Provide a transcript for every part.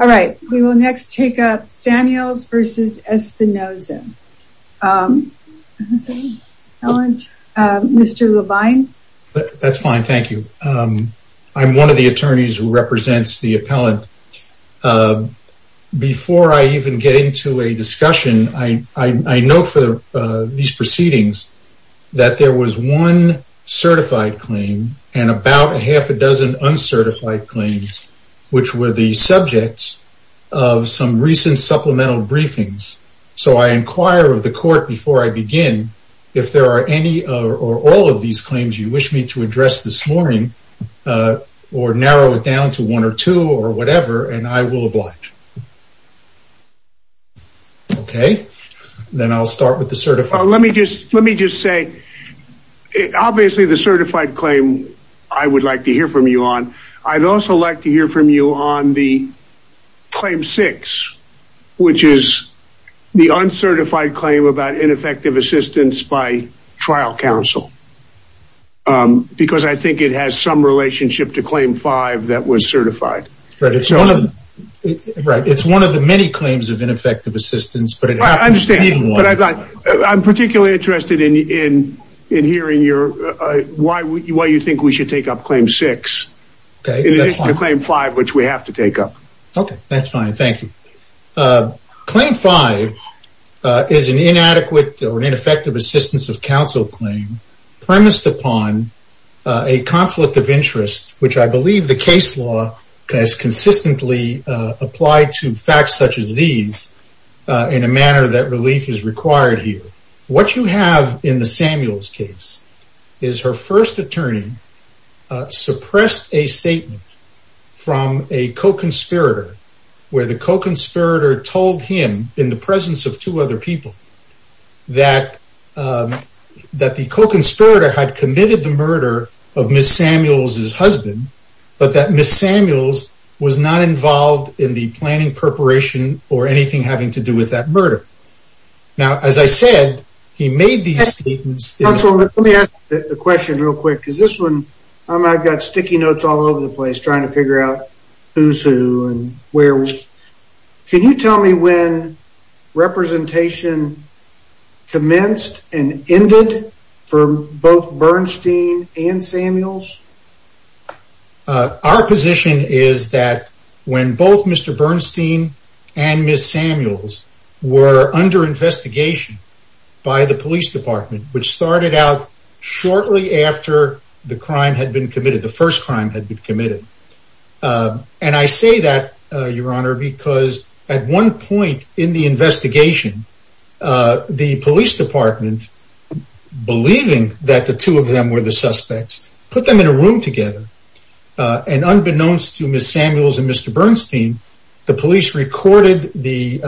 Alright, we will next take up Samuels v. Espinoza. Mr. Levine? That's fine, thank you. I'm one of the attorneys who represents the appellant. Before I even get into a discussion, I note for these proceedings that there was one certified claim and about a half a dozen uncertified claims, which were the subjects of some recent supplemental briefings. So I inquire of the court before I begin if there are any or all of these claims you wish me to address this morning or narrow it down to one or two or whatever, and I will oblige. Okay, then I'll start with the certified. Let me just say, obviously the certified claim I would like to hear from you on. I'd also like to hear from you on the Claim 6, which is the uncertified claim about ineffective assistance by trial counsel. Because I think it has some relationship to Claim 5 that was certified. Right, it's one of the many claims of ineffective assistance, but it happens to be one. I'm particularly interested in hearing why you think we should take up Claim 6 in addition to Claim 5, which we have to take up. Okay, that's fine, thank you. Claim 5 is an inadequate or ineffective assistance of counsel claim premised upon a conflict of interest, which I believe the case law has consistently applied to facts such as these in a manner that relief is required here. What you have in the Samuels case is her first attorney suppressed a statement from a co-conspirator, where the co-conspirator told him, in the presence of two other people, that the co-conspirator had committed the murder of Ms. Samuels' husband, but that Ms. Samuels was not involved in the planning, preparation, or anything having to do with that murder. Now, as I said, he made these statements. Counsel, let me ask a question real quick. I've got sticky notes all over the place trying to figure out who's who and where. Can you tell me when representation commenced and ended for both Bernstein and Samuels? Our position is that when both Mr. Bernstein and Ms. Samuels were under investigation by the police department, which started out shortly after the crime had been committed, the first crime had been committed. And I say that, Your Honor, because at one point in the investigation, the police department, believing that the two of them were the suspects, put them in a room together. And unbeknownst to Ms. Samuels and Mr. Bernstein, the police recorded the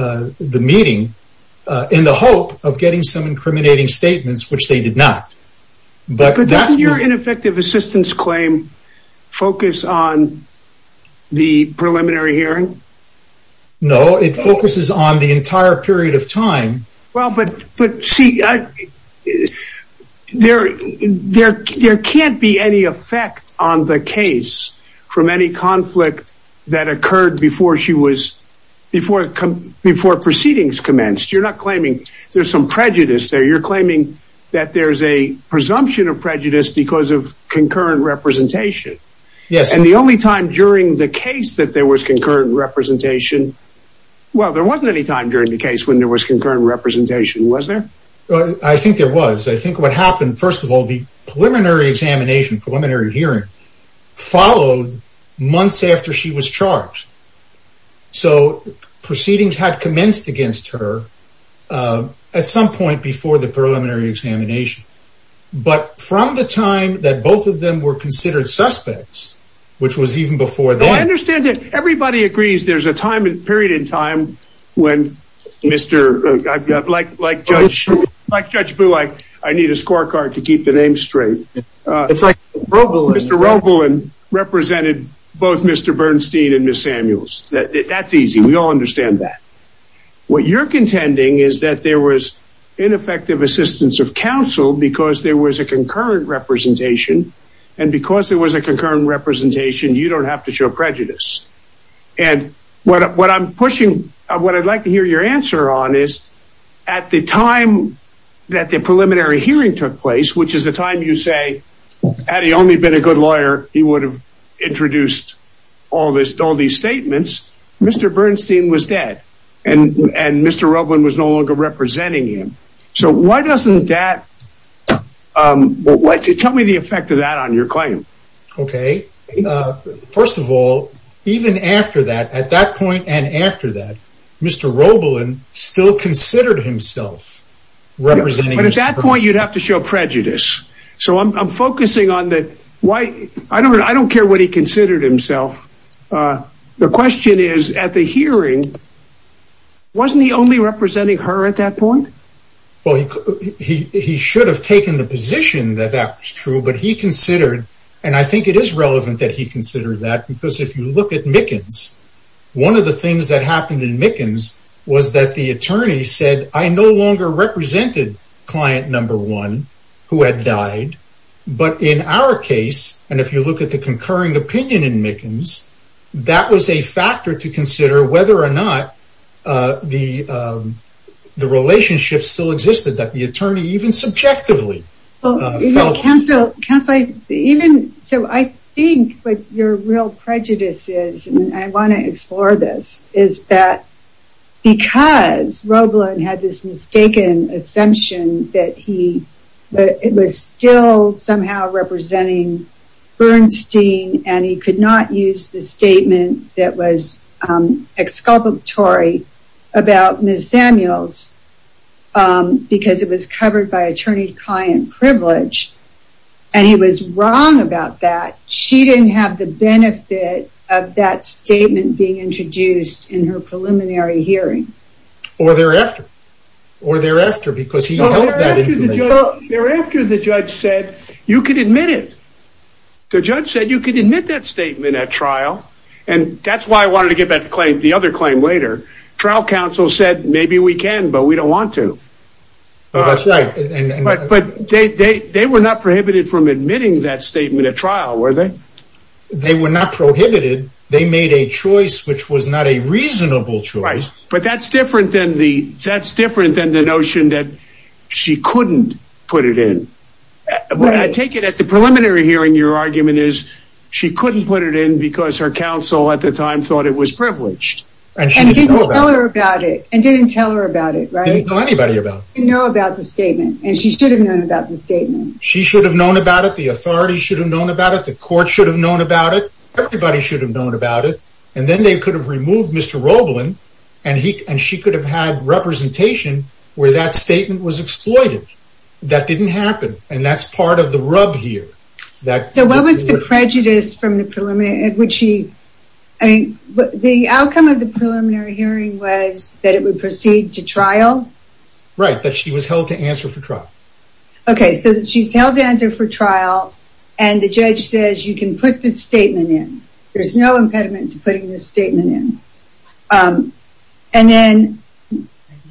meeting in the hope of getting some incriminating statements, which they did not. But doesn't your ineffective assistance claim focus on the preliminary hearing? No, it focuses on the entire period of time. Well, but see, there can't be any effect on the case from any conflict that occurred before proceedings commenced. You're not claiming there's some prejudice there. You're claiming that there's a presumption of prejudice because of concurrent representation. Yes. And the only time during the case that there was concurrent representation. Well, there wasn't any time during the case when there was concurrent representation, was there? I think there was. I think what happened, first of all, the preliminary examination, preliminary hearing, followed months after she was charged. So proceedings had commenced against her at some point before the preliminary examination. But from the time that both of them were considered suspects, which was even before that. I understand that everybody agrees there's a time and period in time when Mr. I've got like, like, like Judge Boo, I need a scorecard to keep the name straight. It's like Mr. Roble and represented both Mr. Bernstein and Miss Samuels. That's easy. We all understand that. What you're contending is that there was ineffective assistance of counsel because there was a concurrent representation. And because there was a concurrent representation, you don't have to show prejudice. And what I'm pushing, what I'd like to hear your answer on is at the time that the preliminary hearing took place, which is the time you say, had he only been a good lawyer, he would have introduced all this, all these statements. Mr. Bernstein was dead and Mr. Roblin was no longer representing him. So why doesn't that tell me the effect of that on your claim? OK. First of all, even after that, at that point and after that, Mr. Roblin still considered himself representing. At that point, you'd have to show prejudice. So I'm focusing on that. Why? I don't I don't care what he considered himself. The question is at the hearing, wasn't he only representing her at that point? Well, he he should have taken the position that that was true. But he considered and I think it is relevant that he considered that because if you look at Mickens, one of the things that happened in Mickens was that the attorney said, I no longer represented client number one who had died. But in our case, and if you look at the concurring opinion in Mickens, that was a factor to consider whether or not the the relationship still existed that the attorney even subjectively. Well, counsel, counsel, even so, I think what your real prejudice is. And I want to explore this is that because Roblin had this mistaken assumption that he was still somehow representing Bernstein and he could not use the statement that was exculpatory about Miss Samuels because it was covered by attorney client privilege. And he was wrong about that. She didn't have the benefit of that statement being introduced in her preliminary hearing. Or thereafter or thereafter, because he thereafter the judge said you could admit it. The judge said you could admit that statement at trial. And that's why I wanted to get that claim. The other claim later, trial counsel said, maybe we can, but we don't want to. But they were not prohibited from admitting that statement at trial, were they? They were not prohibited. They made a choice, which was not a reasonable choice. But that's different than the that's different than the notion that she couldn't put it in. I take it at the preliminary hearing. Your argument is she couldn't put it in because her counsel at the time thought it was privileged. And she didn't tell her about it and didn't tell her about it. Right. Anybody about, you know, about the statement and she should have known about the statement. She should have known about it. The authorities should have known about it. The court should have known about it. Everybody should have known about it. And then they could have removed Mr. Roblin and he and she could have had representation where that statement was exploited. That didn't happen. And that's part of the rub here. So what was the prejudice from the preliminary hearing? The outcome of the preliminary hearing was that it would proceed to trial. Right. That she was held to answer for trial. OK, so she's held to answer for trial and the judge says you can put this statement in. There's no impediment to putting this statement in. And then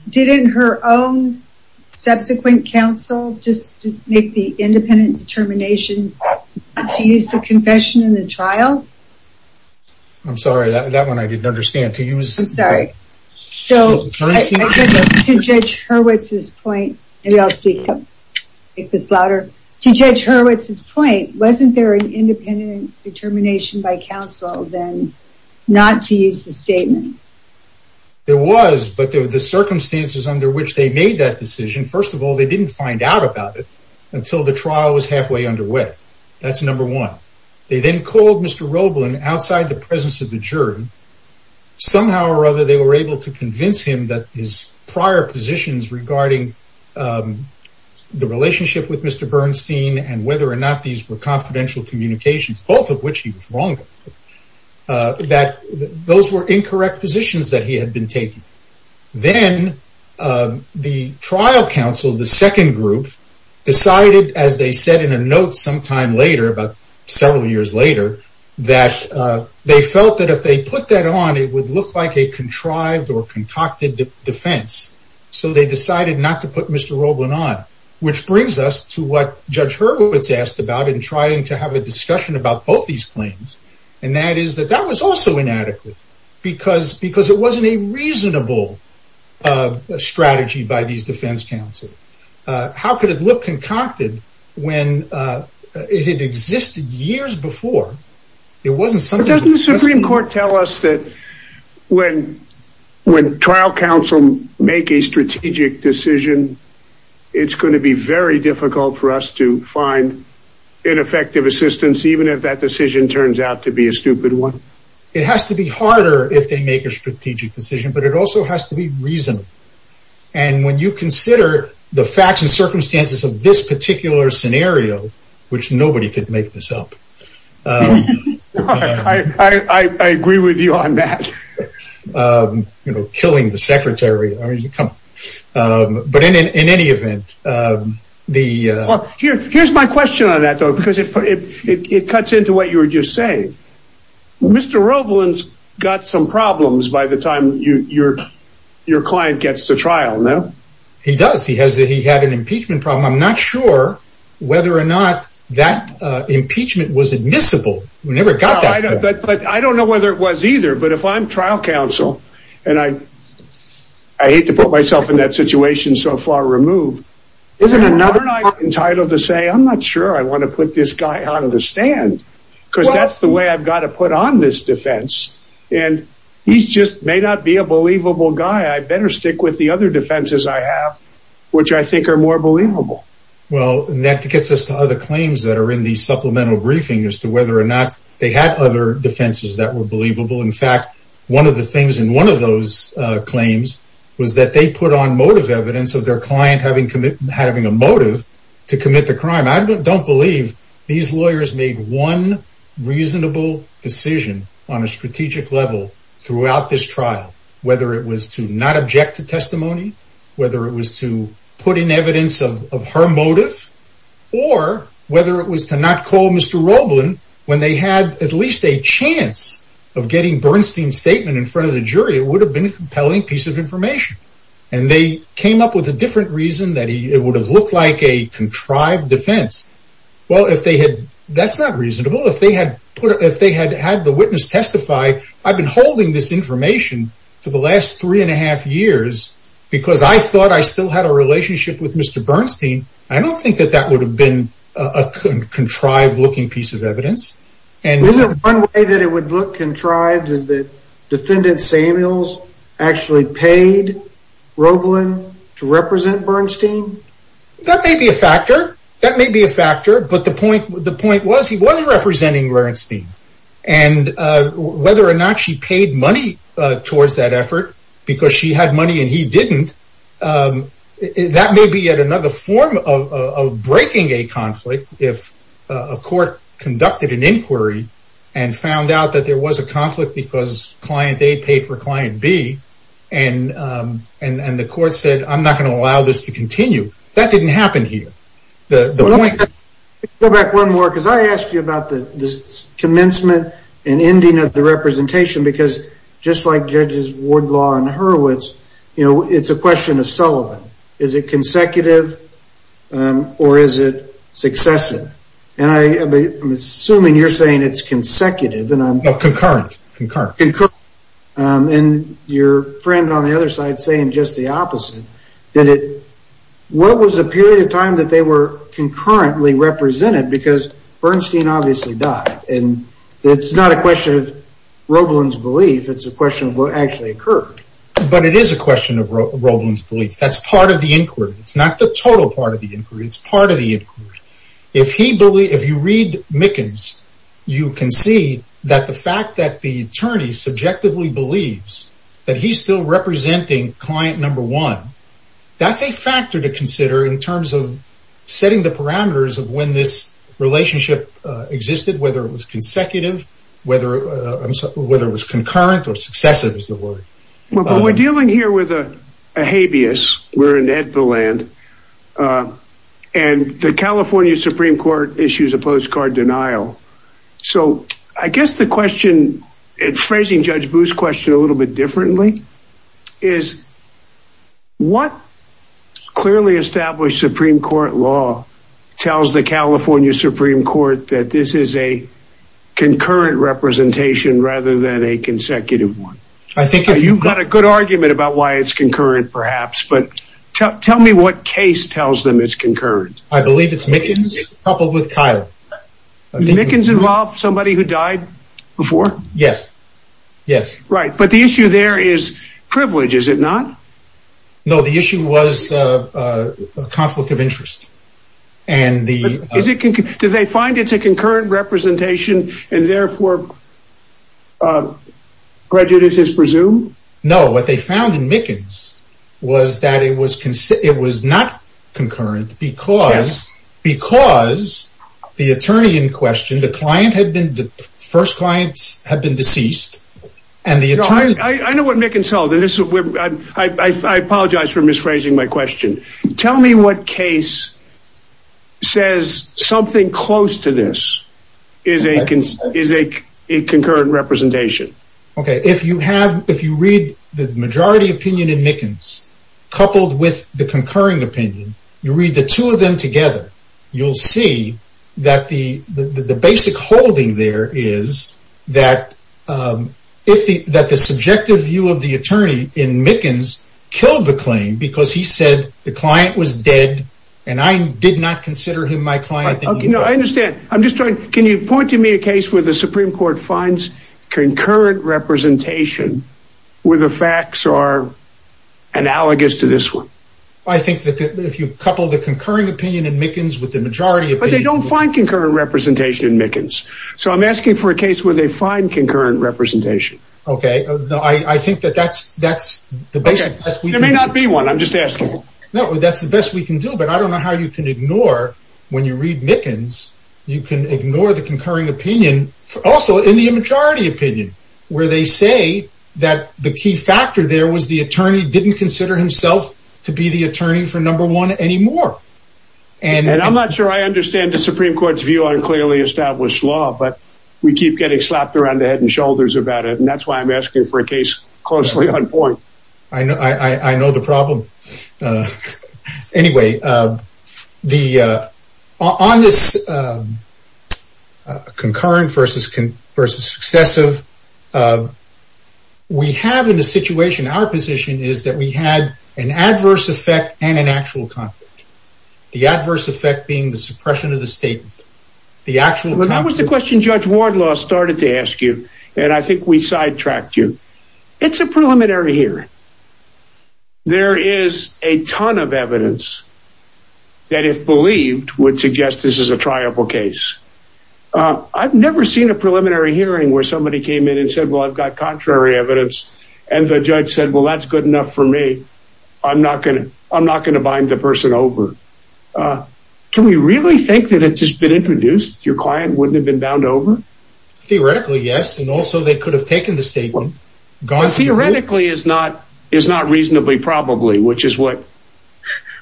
didn't her own subsequent counsel just make the independent determination to use the confession in the trial? I'm sorry, that one I didn't understand. So to Judge Hurwitz's point, wasn't there an independent determination by counsel then not to use the statement? There was, but there were the circumstances under which they made that decision. First of all, they didn't find out about it until the trial was halfway underway. That's number one. They then called Mr. Roblin outside the presence of the jury. Somehow or other, they were able to convince him that his prior positions regarding the relationship with Mr. Bernstein and whether or not these were confidential communications, both of which he was wrong. That those were incorrect positions that he had been taking. Then the trial counsel, the second group, decided as they said in a note sometime later, about several years later, that they felt that if they put that on, it would look like a contrived or concocted defense. So they decided not to put Mr. Roblin on. Which brings us to what Judge Hurwitz asked about in trying to have a discussion about both these claims. And that is that that was also inadequate because it wasn't a reasonable strategy by these defense counsel. How could it look concocted when it had existed years before? Doesn't the Supreme Court tell us that when trial counsel make a strategic decision, it's going to be very difficult for us to find ineffective assistance, even if that decision turns out to be a stupid one? It has to be harder if they make a strategic decision, but it also has to be reasonable. And when you consider the facts and circumstances of this particular scenario, which nobody could make this up. I agree with you on that. Killing the secretary. But in any event. Here's my question on that, though, because it cuts into what you were just saying. Mr. Roblin's got some problems by the time your client gets to trial, no? He does. He had an impeachment problem. I'm not sure whether or not that impeachment was admissible. But I don't know whether it was either. But if I'm trial counsel and I. I hate to put myself in that situation so far removed. Isn't another entitled to say, I'm not sure I want to put this guy out of the stand because that's the way I've got to put on this defense. And he's just may not be a believable guy. I better stick with the other defenses I have, which I think are more believable. Well, that gets us to other claims that are in the supplemental briefing as to whether or not they had other defenses that were believable. In fact, one of the things in one of those claims was that they put on motive evidence of their client having commit having a motive to commit the crime. I don't believe these lawyers made one reasonable decision on a strategic level throughout this trial, whether it was to not object to testimony. Whether it was to put in evidence of her motive or whether it was to not call Mr. Roblin when they had at least a chance of getting Bernstein statement in front of the jury. It would have been a compelling piece of information. And they came up with a different reason that it would have looked like a contrived defense. Well, if they had, that's not reasonable. If they had had the witness testify, I've been holding this information for the last three and a half years because I thought I still had a relationship with Mr. Bernstein. I don't think that that would have been a contrived looking piece of evidence. And one way that it would look contrived is that defendant Samuels actually paid Roblin to represent Bernstein. That may be a factor. That may be a factor. But the point the point was he wasn't representing Bernstein and whether or not she paid money towards that effort because she had money and he didn't. That may be yet another form of breaking a conflict. If a court conducted an inquiry and found out that there was a conflict because client A paid for client B and and the court said, I'm not going to allow this to continue. That didn't happen here. Let me go back one more because I asked you about the commencement and ending of the representation. Because just like judges Wardlaw and Hurwitz, you know, it's a question of Sullivan. Is it consecutive or is it successive? And I am assuming you're saying it's consecutive and concurrent. And your friend on the other side saying just the opposite. What was the period of time that they were concurrently represented? Because Bernstein obviously died. And it's not a question of Roblin's belief. It's a question of what actually occurred. But it is a question of Roblin's belief. That's part of the inquiry. It's not the total part of the inquiry. It's part of the inquiry. If you read Mickens, you can see that the fact that the attorney subjectively believes that he's still representing client number one. That's a factor to consider in terms of setting the parameters of when this relationship existed, whether it was consecutive, whether it was concurrent or successive is the word. But we're dealing here with a habeas. We're in the land and the California Supreme Court issues a postcard denial. So I guess the question phrasing Judge Booth's question a little bit differently is. What clearly established Supreme Court law tells the California Supreme Court that this is a concurrent representation rather than a consecutive one? I think you've got a good argument about why it's concurrent, perhaps. But tell me what case tells them it's concurrent. I believe it's Mickens coupled with Kyle. Mickens involved somebody who died before? Yes. Yes. Right. But the issue there is privilege, is it not? No, the issue was a conflict of interest. And is it? Do they find it's a concurrent representation and therefore prejudice is presumed? No. What they found in Mickens was that it was it was not concurrent because because the attorney in question, the client had been the first clients have been deceased. I know what Mickens held. I apologize for misphrasing my question. Tell me what case says something close to this is a is a concurrent representation. OK, if you have if you read the majority opinion in Mickens coupled with the concurring opinion, you read the two of them together. You'll see that the the basic holding there is that if that the subjective view of the attorney in Mickens killed the claim because he said the client was dead and I did not consider him my client. No, I understand. I'm just trying. Can you point to me a case where the Supreme Court finds concurrent representation where the facts are analogous to this one? I think that if you couple the concurring opinion in Mickens with the majority, but they don't find concurrent representation in Mickens. So I'm asking for a case where they find concurrent representation. OK, I think that that's that's the best. We may not be one. I'm just asking. No, that's the best we can do. But I don't know how you can ignore when you read Mickens. You can ignore the concurring opinion also in the majority opinion where they say that the key factor there was the attorney didn't consider himself to be the attorney for number one anymore. And I'm not sure I understand the Supreme Court's view on clearly established law, but we keep getting slapped around the head and shoulders about it. And that's why I'm asking for a case closely on point. I know the problem. Anyway, the on this concurrent versus versus successive. We have in the situation, our position is that we had an adverse effect and an actual conflict. The adverse effect being the suppression of the state. The actual. That was the question Judge Wardlaw started to ask you. And I think we sidetracked you. It's a preliminary here. There is a ton of evidence. That if believed would suggest this is a triable case. I've never seen a preliminary hearing where somebody came in and said, well, I've got contrary evidence. And the judge said, well, that's good enough for me. I'm not going to I'm not going to bind the person over. Can we really think that it has been introduced? Your client wouldn't have been bound over? Theoretically, yes. And also, they could have taken the statement gone. Theoretically is not is not reasonably probably, which is what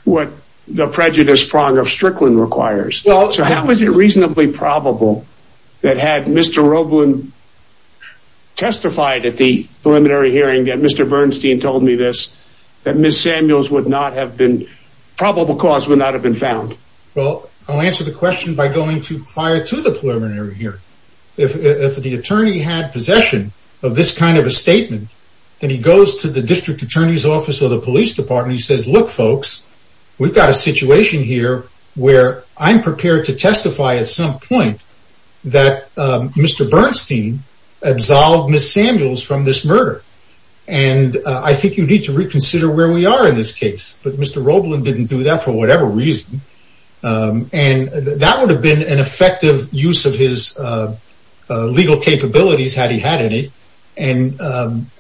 what the prejudice prong of Strickland requires. So how is it reasonably probable that had Mr. Roblin testified at the preliminary hearing that Mr. Bernstein told me this, that Miss Samuels would not have been probable cause would not have been found? Well, I'll answer the question by going to prior to the preliminary here. If the attorney had possession of this kind of a statement, then he goes to the district attorney's office or the police department. He says, look, folks, we've got a situation here where I'm prepared to testify at some point that Mr. Bernstein absolved Miss Samuels from this murder. And I think you need to reconsider where we are in this case. But Mr. Roblin didn't do that for whatever reason. And that would have been an effective use of his legal capabilities had he had any. And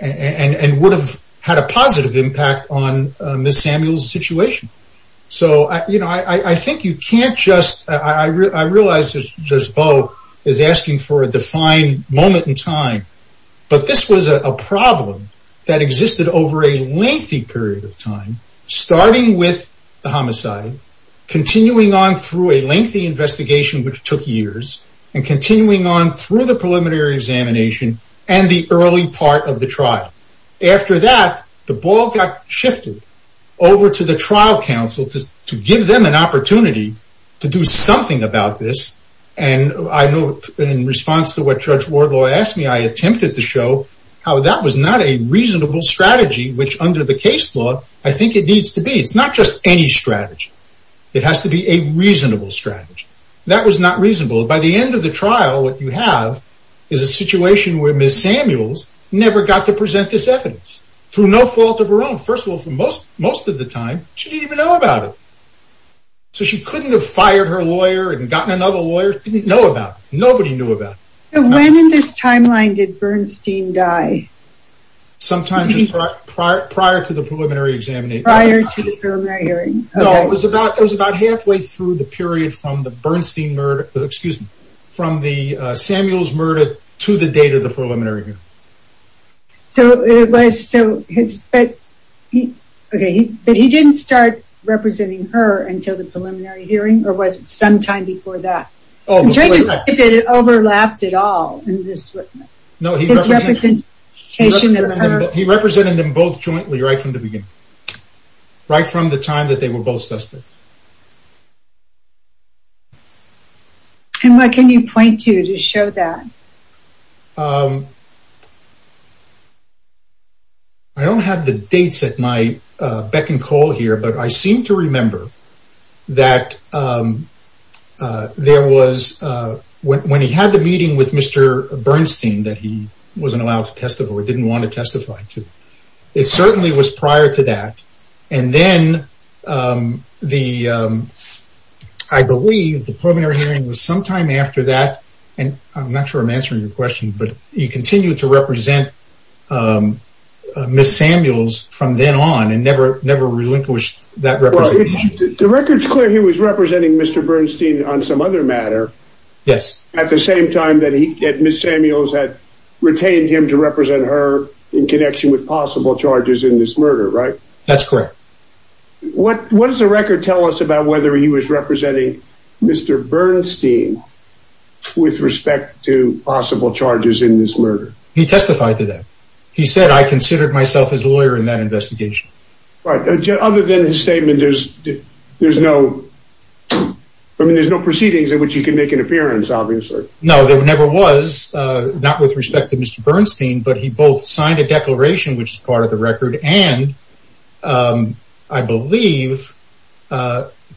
and would have had a positive impact on Miss Samuels situation. So, you know, I think you can't just I realized this just both is asking for a defined moment in time. But this was a problem that existed over a lengthy period of time, starting with the homicide, continuing on through a lengthy investigation, which took years and continuing on through the preliminary examination and the early part of the trial. After that, the ball got shifted over to the trial counsel to give them an opportunity to do something about this. And I know in response to what Judge Wardlaw asked me, I attempted to show how that was not a reasonable strategy, which under the case law, I think it needs to be. It's not just any strategy. It has to be a reasonable strategy. That was not reasonable. By the end of the trial, what you have is a situation where Miss Samuels never got to present this evidence through no fault of her own. First of all, for most most of the time, she didn't even know about it. So she couldn't have fired her lawyer and gotten another lawyer didn't know about it. Nobody knew about it. When in this timeline did Bernstein die? Sometime prior to the preliminary examination. Prior to the preliminary hearing? No, it was about it was about halfway through the period from the Bernstein murder. Excuse me, from the Samuels murder to the date of the preliminary hearing. So it was so, but he didn't start representing her until the preliminary hearing or was it sometime before that? Did it overlap at all in this? No, he represented them both jointly right from the beginning. Right from the time that they were both suspected. And what can you point to to show that? I don't have the dates at my beck and call here, but I seem to remember that there was when he had the meeting with Mr. Bernstein that he wasn't allowed to testify or didn't want to testify to. It certainly was prior to that. And then the I believe the preliminary hearing was sometime after that. And I'm not sure I'm answering your question, but you continue to represent Miss Samuels from then on and never, never relinquished that. The record's clear he was representing Mr. Bernstein on some other matter. Yes. At the same time that he had Miss Samuels had retained him to represent her in connection with possible charges in this murder, right? That's correct. What does the record tell us about whether he was representing Mr. Bernstein with respect to possible charges in this murder? He testified to that. He said, I considered myself as a lawyer in that investigation. Right. Other than his statement, there's no, I mean, there's no proceedings in which you can make an appearance, obviously. No, there never was. Not with respect to Mr. Bernstein, but he both signed a declaration, which is part of the record. And I believe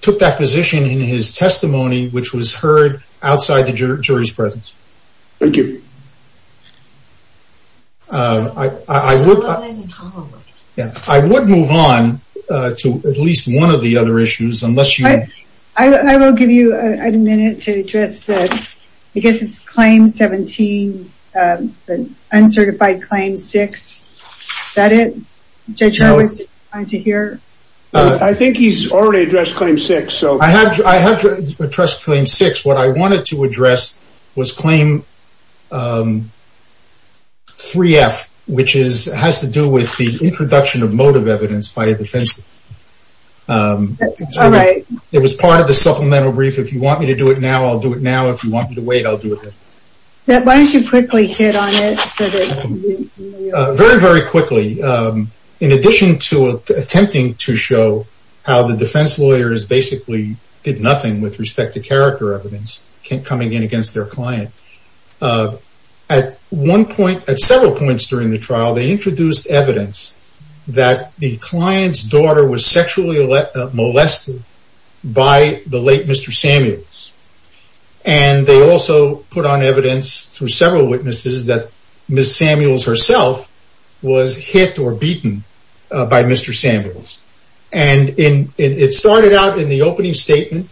took that position in his testimony, which was heard outside the jury's presence. Thank you. I would move on to at least one of the other issues. I will give you a minute to address that. I guess it's Claim 17, Uncertified Claim 6. Is that it? Judge Howard, did you want to hear? I think he's already addressed Claim 6. I have addressed Claim 6. What I wanted to address was Claim 3F, which has to do with the introduction of motive evidence by a defense attorney. All right. It was part of the supplemental brief. If you want me to do it now, I'll do it now. If you want me to wait, I'll do it then. Why don't you quickly hit on it? Very, very quickly. In addition to attempting to show how the defense lawyers basically did nothing with respect to character evidence coming in against their client, at several points during the trial, they introduced evidence that the client's daughter was sexually molested by the late Mr. Samuels. They also put on evidence through several witnesses that Ms. Samuels herself was hit or beaten by Mr. Samuels. It started out in the opening statement.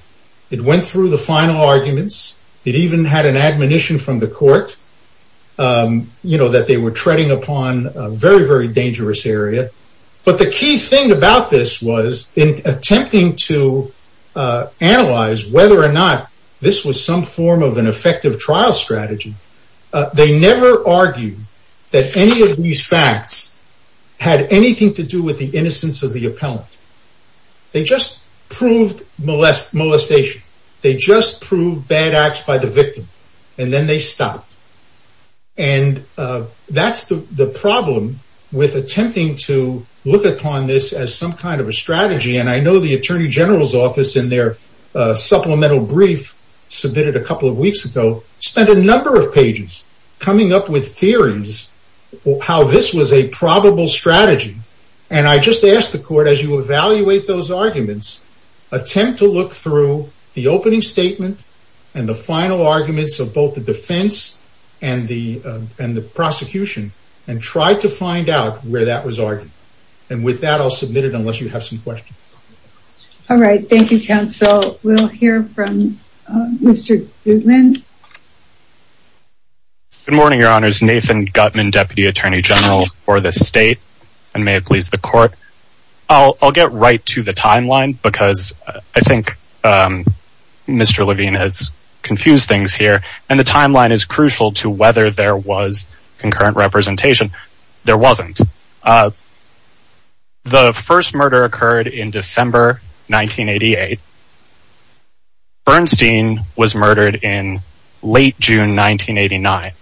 It went through the final arguments. It even had an admonition from the court that they were treading upon a very, very dangerous area. But the key thing about this was in attempting to analyze whether or not this was some form of an effective trial strategy, they never argued that any of these facts had anything to do with the innocence of the appellant. They just proved molestation. They just proved bad acts by the victim. And then they stopped. And that's the problem with attempting to look upon this as some kind of a strategy. And I know the Attorney General's office, in their supplemental brief submitted a couple of weeks ago, spent a number of pages coming up with theories how this was a probable strategy. And I just ask the court, as you evaluate those arguments, attempt to look through the opening statement and the final arguments of both the defense and the prosecution and try to find out where that was argued. And with that, I'll submit it unless you have some questions. All right. Thank you, counsel. We'll hear from Mr. Goodman. Good morning, Your Honors. This is Nathan Gutman, Deputy Attorney General for the state, and may it please the court. I'll get right to the timeline because I think Mr. Levine has confused things here. And the timeline is crucial to whether there was concurrent representation. There wasn't. The first murder occurred in December 1988. Bernstein was murdered in late June 1989.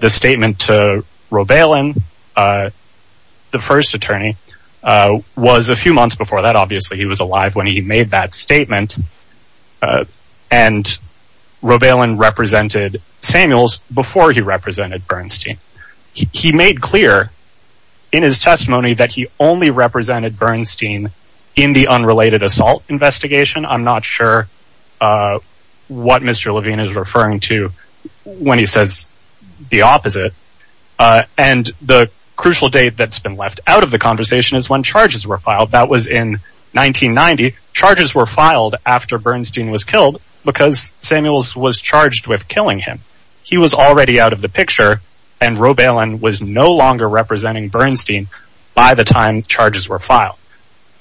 The statement to Roebalen, the first attorney, was a few months before that. Obviously, he was alive when he made that statement. And Roebalen represented Samuels before he represented Bernstein. He made clear in his testimony that he only represented Bernstein in the unrelated assault investigation. I'm not sure what Mr. Levine is referring to when he says the opposite. And the crucial date that's been left out of the conversation is when charges were filed. That was in 1990. Charges were filed after Bernstein was killed because Samuels was charged with killing him. He was already out of the picture, and Roebalen was no longer representing Bernstein by the time charges were filed.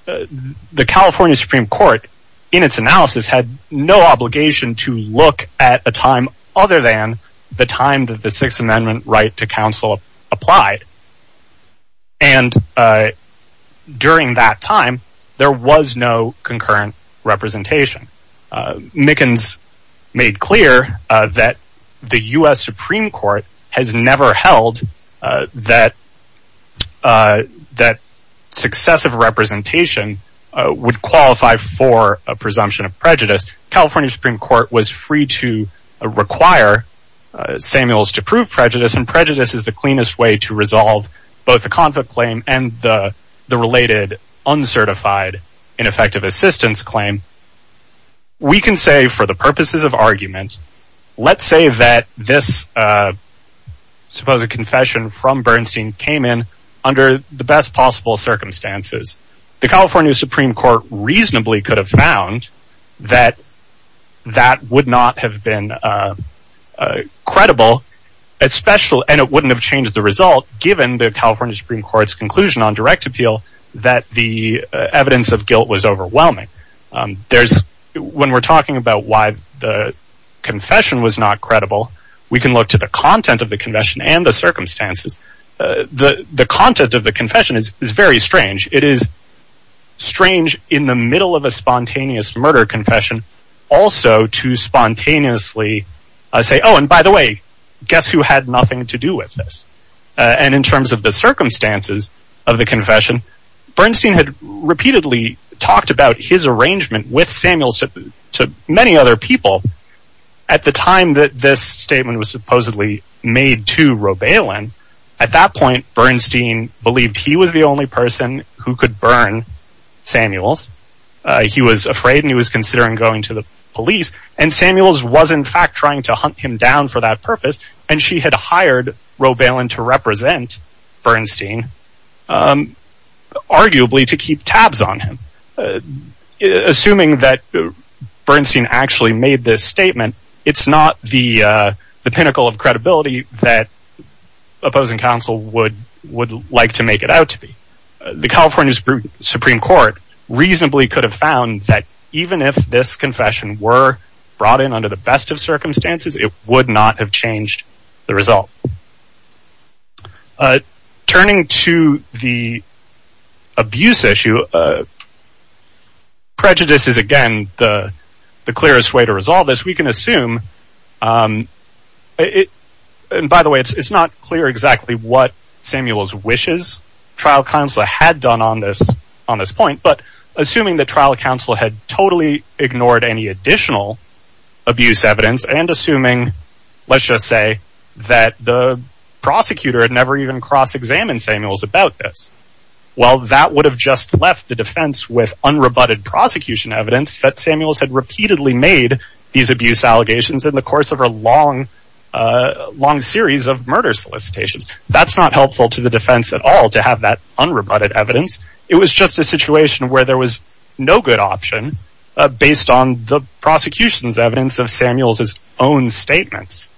The California Supreme Court, in its analysis, had no obligation to look at a time other than the time that the Sixth Amendment right to counsel applied. And during that time, there was no concurrent representation. Mickens made clear that the U.S. Supreme Court has never held that successive representation would qualify for a presumption of prejudice. The California Supreme Court was free to require Samuels to prove prejudice. Prejudice is the cleanest way to resolve both the conflict claim and the related, uncertified, ineffective assistance claim. We can say, for the purposes of argument, let's say that this supposed confession from Bernstein came in under the best possible circumstances. The California Supreme Court reasonably could have found that that would not have been credible, and it wouldn't have changed the result, given the California Supreme Court's conclusion on direct appeal that the evidence of guilt was overwhelming. When we're talking about why the confession was not credible, we can look to the content of the confession and the circumstances. The content of the confession is very strange. It is strange in the middle of a spontaneous murder confession also to spontaneously say, oh, and by the way, guess who had nothing to do with this? And in terms of the circumstances of the confession, Bernstein had repeatedly talked about his arrangement with Samuels to many other people. At the time that this statement was supposedly made to Roebalen, at that point Bernstein believed he was the only person who could burn Samuels. He was afraid and he was considering going to the police, and Samuels was in fact trying to hunt him down for that purpose, and she had hired Roebalen to represent Bernstein, arguably to keep tabs on him. Assuming that Bernstein actually made this statement, it's not the pinnacle of credibility that opposing counsel would like to make it out to be. The California Supreme Court reasonably could have found that even if this confession were brought in under the best of circumstances, it would not have changed the result. Turning to the abuse issue, prejudice is again the clearest way to resolve this. We can assume, and by the way, it's not clear exactly what Samuels wishes trial counsel had done on this point, but assuming that trial counsel had totally ignored any additional abuse evidence, and assuming, let's just say, that the prosecutor had never even cross-examined Samuels about this, well that would have just left the defense with unrebutted prosecution evidence that Samuels had repeatedly made these abuse allegations in the course of a long series of murder solicitations. That's not helpful to the defense at all, to have that unrebutted evidence. It was just a situation where there was no good option, based on the prosecution's evidence of Samuels' own statements.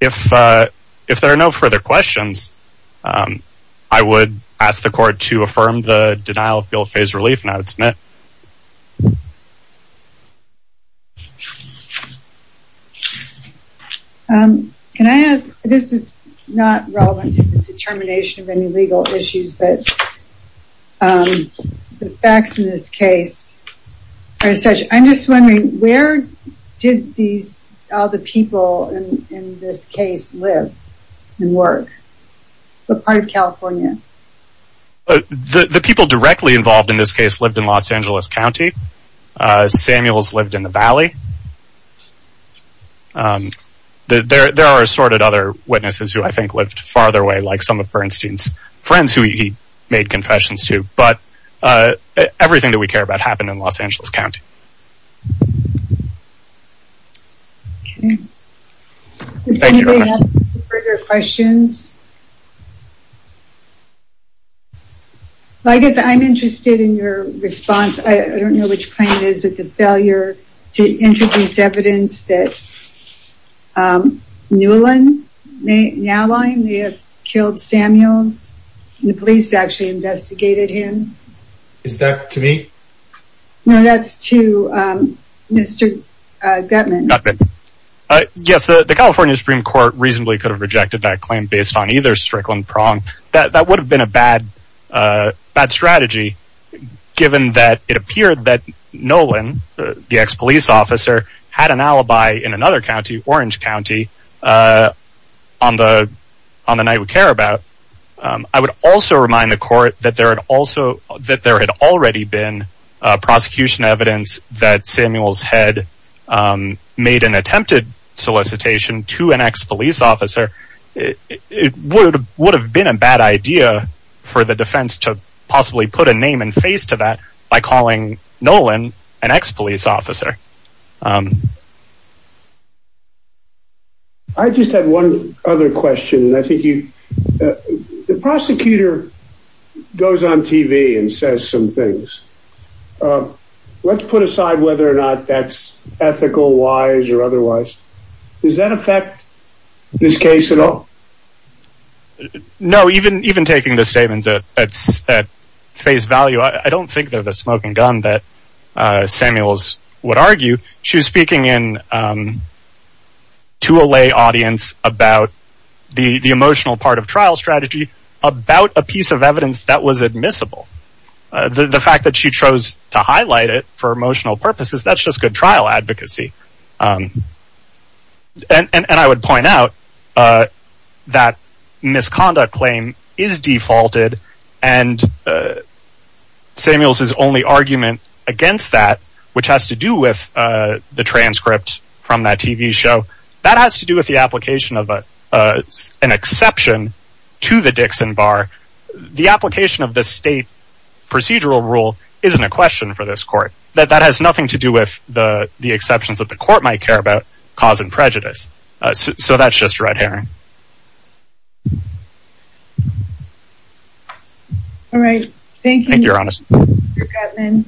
If there are no further questions, I would ask the court to affirm the denial of guilt phase relief, and I would submit. Can I ask, this is not relevant to the determination of any legal issues, but the facts in this case, I'm just wondering, where did all the people in this case live and work? What part of California? The people directly involved in this case lived in Los Angeles County. Samuels lived in the Valley. There are assorted other witnesses who I think lived farther away, like some of Bernstein's friends who he made confessions to, but everything that we care about happened in Los Angeles County. Does anybody have any further questions? I guess I'm interested in your response. I don't know which claim it is, but the failure to introduce evidence that Newland Nalline may have killed Samuels. The police actually investigated him. Is that to me? No, that's to Mr. Gutman. Yes, the California Supreme Court reasonably could have rejected that claim based on either Strickland or Prong. That would have been a bad strategy, given that it appeared that Nolan, the ex-police officer, had an alibi in another county, Orange County, on the night we care about. I would also remind the court that there had already been prosecution evidence that Samuels had made an attempted solicitation to an ex-police officer. It would have been a bad idea for the defense to possibly put a name and face to that by calling Nolan an ex-police officer. I just have one other question. The prosecutor goes on TV and says some things. Let's put aside whether or not that's ethical, wise, or otherwise. Does that affect this case at all? No, even taking the statements at face value, I don't think they're the smoking gun that Samuels would argue. She was speaking to a lay audience about the emotional part of trial strategy, about a piece of evidence that was admissible. The fact that she chose to highlight it for emotional purposes, that's just good trial advocacy. I would point out that misconduct claim is defaulted, and Samuels' only argument against that, which has to do with the transcript from that TV show, that has to do with the application of an exception to the Dixon Bar. The application of the state procedural rule isn't a question for this court. That has nothing to do with the exceptions that the court might care about causing prejudice. So that's just red herring. All right. Thank you, Mr. Katman.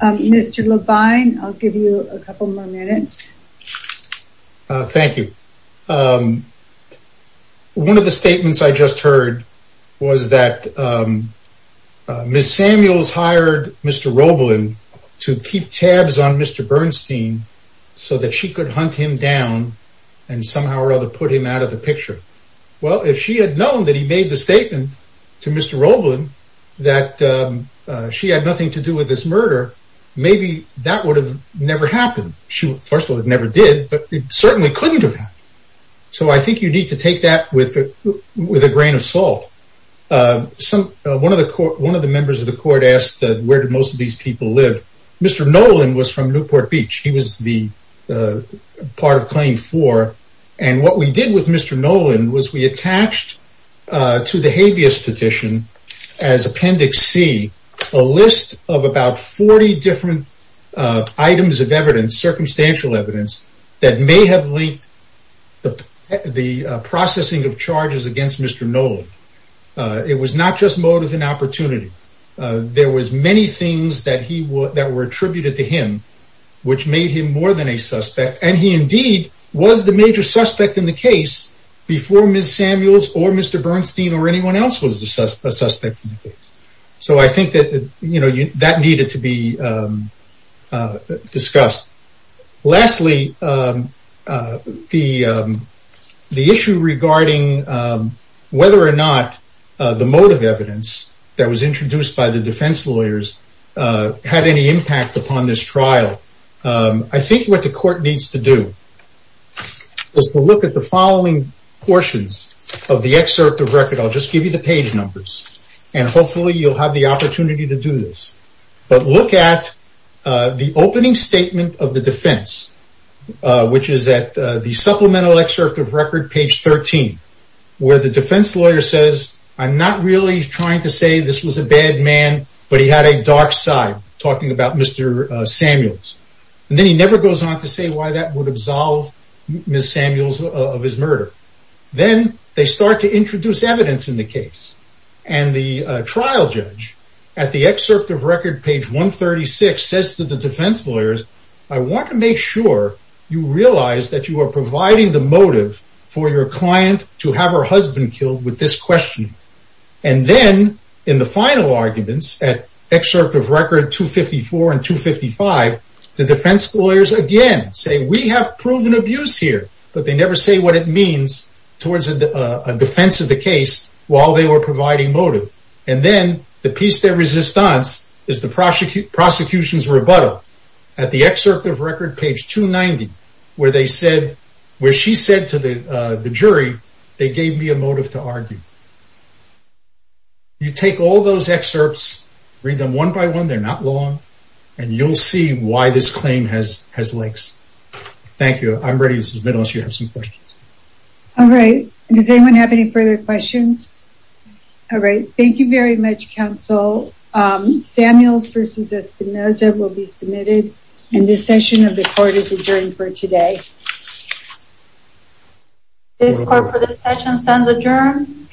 Mr. Levine, I'll give you a couple more minutes. Thank you. One of the statements I just heard was that Ms. Samuels hired Mr. Roebelin to keep tabs on Mr. Bernstein so that she could hunt him down and somehow or other put him out of the picture. Well, if she had known that he made the statement to Mr. Roebelin that she had nothing to do with this murder, maybe that would have never happened. First of all, it never did, but it certainly couldn't have happened. So I think you need to take that with a grain of salt. One of the members of the court asked where did most of these people live. Mr. Nolan was from Newport Beach. He was the part of Claim 4. And what we did with Mr. Nolan was we attached to the habeas petition as Appendix C a list of about 40 different items of evidence, circumstantial evidence, that may have linked the processing of charges against Mr. Nolan. It was not just motive and opportunity. There was many things that were attributed to him which made him more than a suspect. And he indeed was the major suspect in the case before Ms. Samuels or Mr. Bernstein or anyone else was the suspect. So I think that needed to be discussed. Lastly, the issue regarding whether or not the motive evidence that was introduced by the defense lawyers had any impact upon this trial. I think what the court needs to do is to look at the following portions of the excerpt of record. I'll just give you the page numbers. And hopefully you'll have the opportunity to do this. But look at the opening statement of the defense, which is at the supplemental excerpt of record, page 13, where the defense lawyer says, I'm not really trying to say this was a bad man, but he had a dark side talking about Mr. Samuels. And then he never goes on to say why that would absolve Ms. Samuels of his murder. Then they start to introduce evidence in the case. And the trial judge at the excerpt of record, page 136, says to the defense lawyers, I want to make sure you realize that you are providing the motive for your client to have her husband killed with this question. And then in the final arguments at excerpt of record 254 and 255, the defense lawyers again say, we have proven abuse here, but they never say what it means towards a defense of the case while they were providing motive. And then the piece de resistance is the prosecution's rebuttal at the excerpt of record, page 290, where she said to the jury, they gave me a motive to argue. You take all those excerpts, read them one by one. They're not long. And you'll see why this claim has legs. Thank you. I'm ready to submit unless you have some questions. All right. Does anyone have any further questions? All right. Thank you very much, counsel. Samuels versus Espinoza will be submitted. And this session of the court is adjourned for today. This court for this session stands adjourned.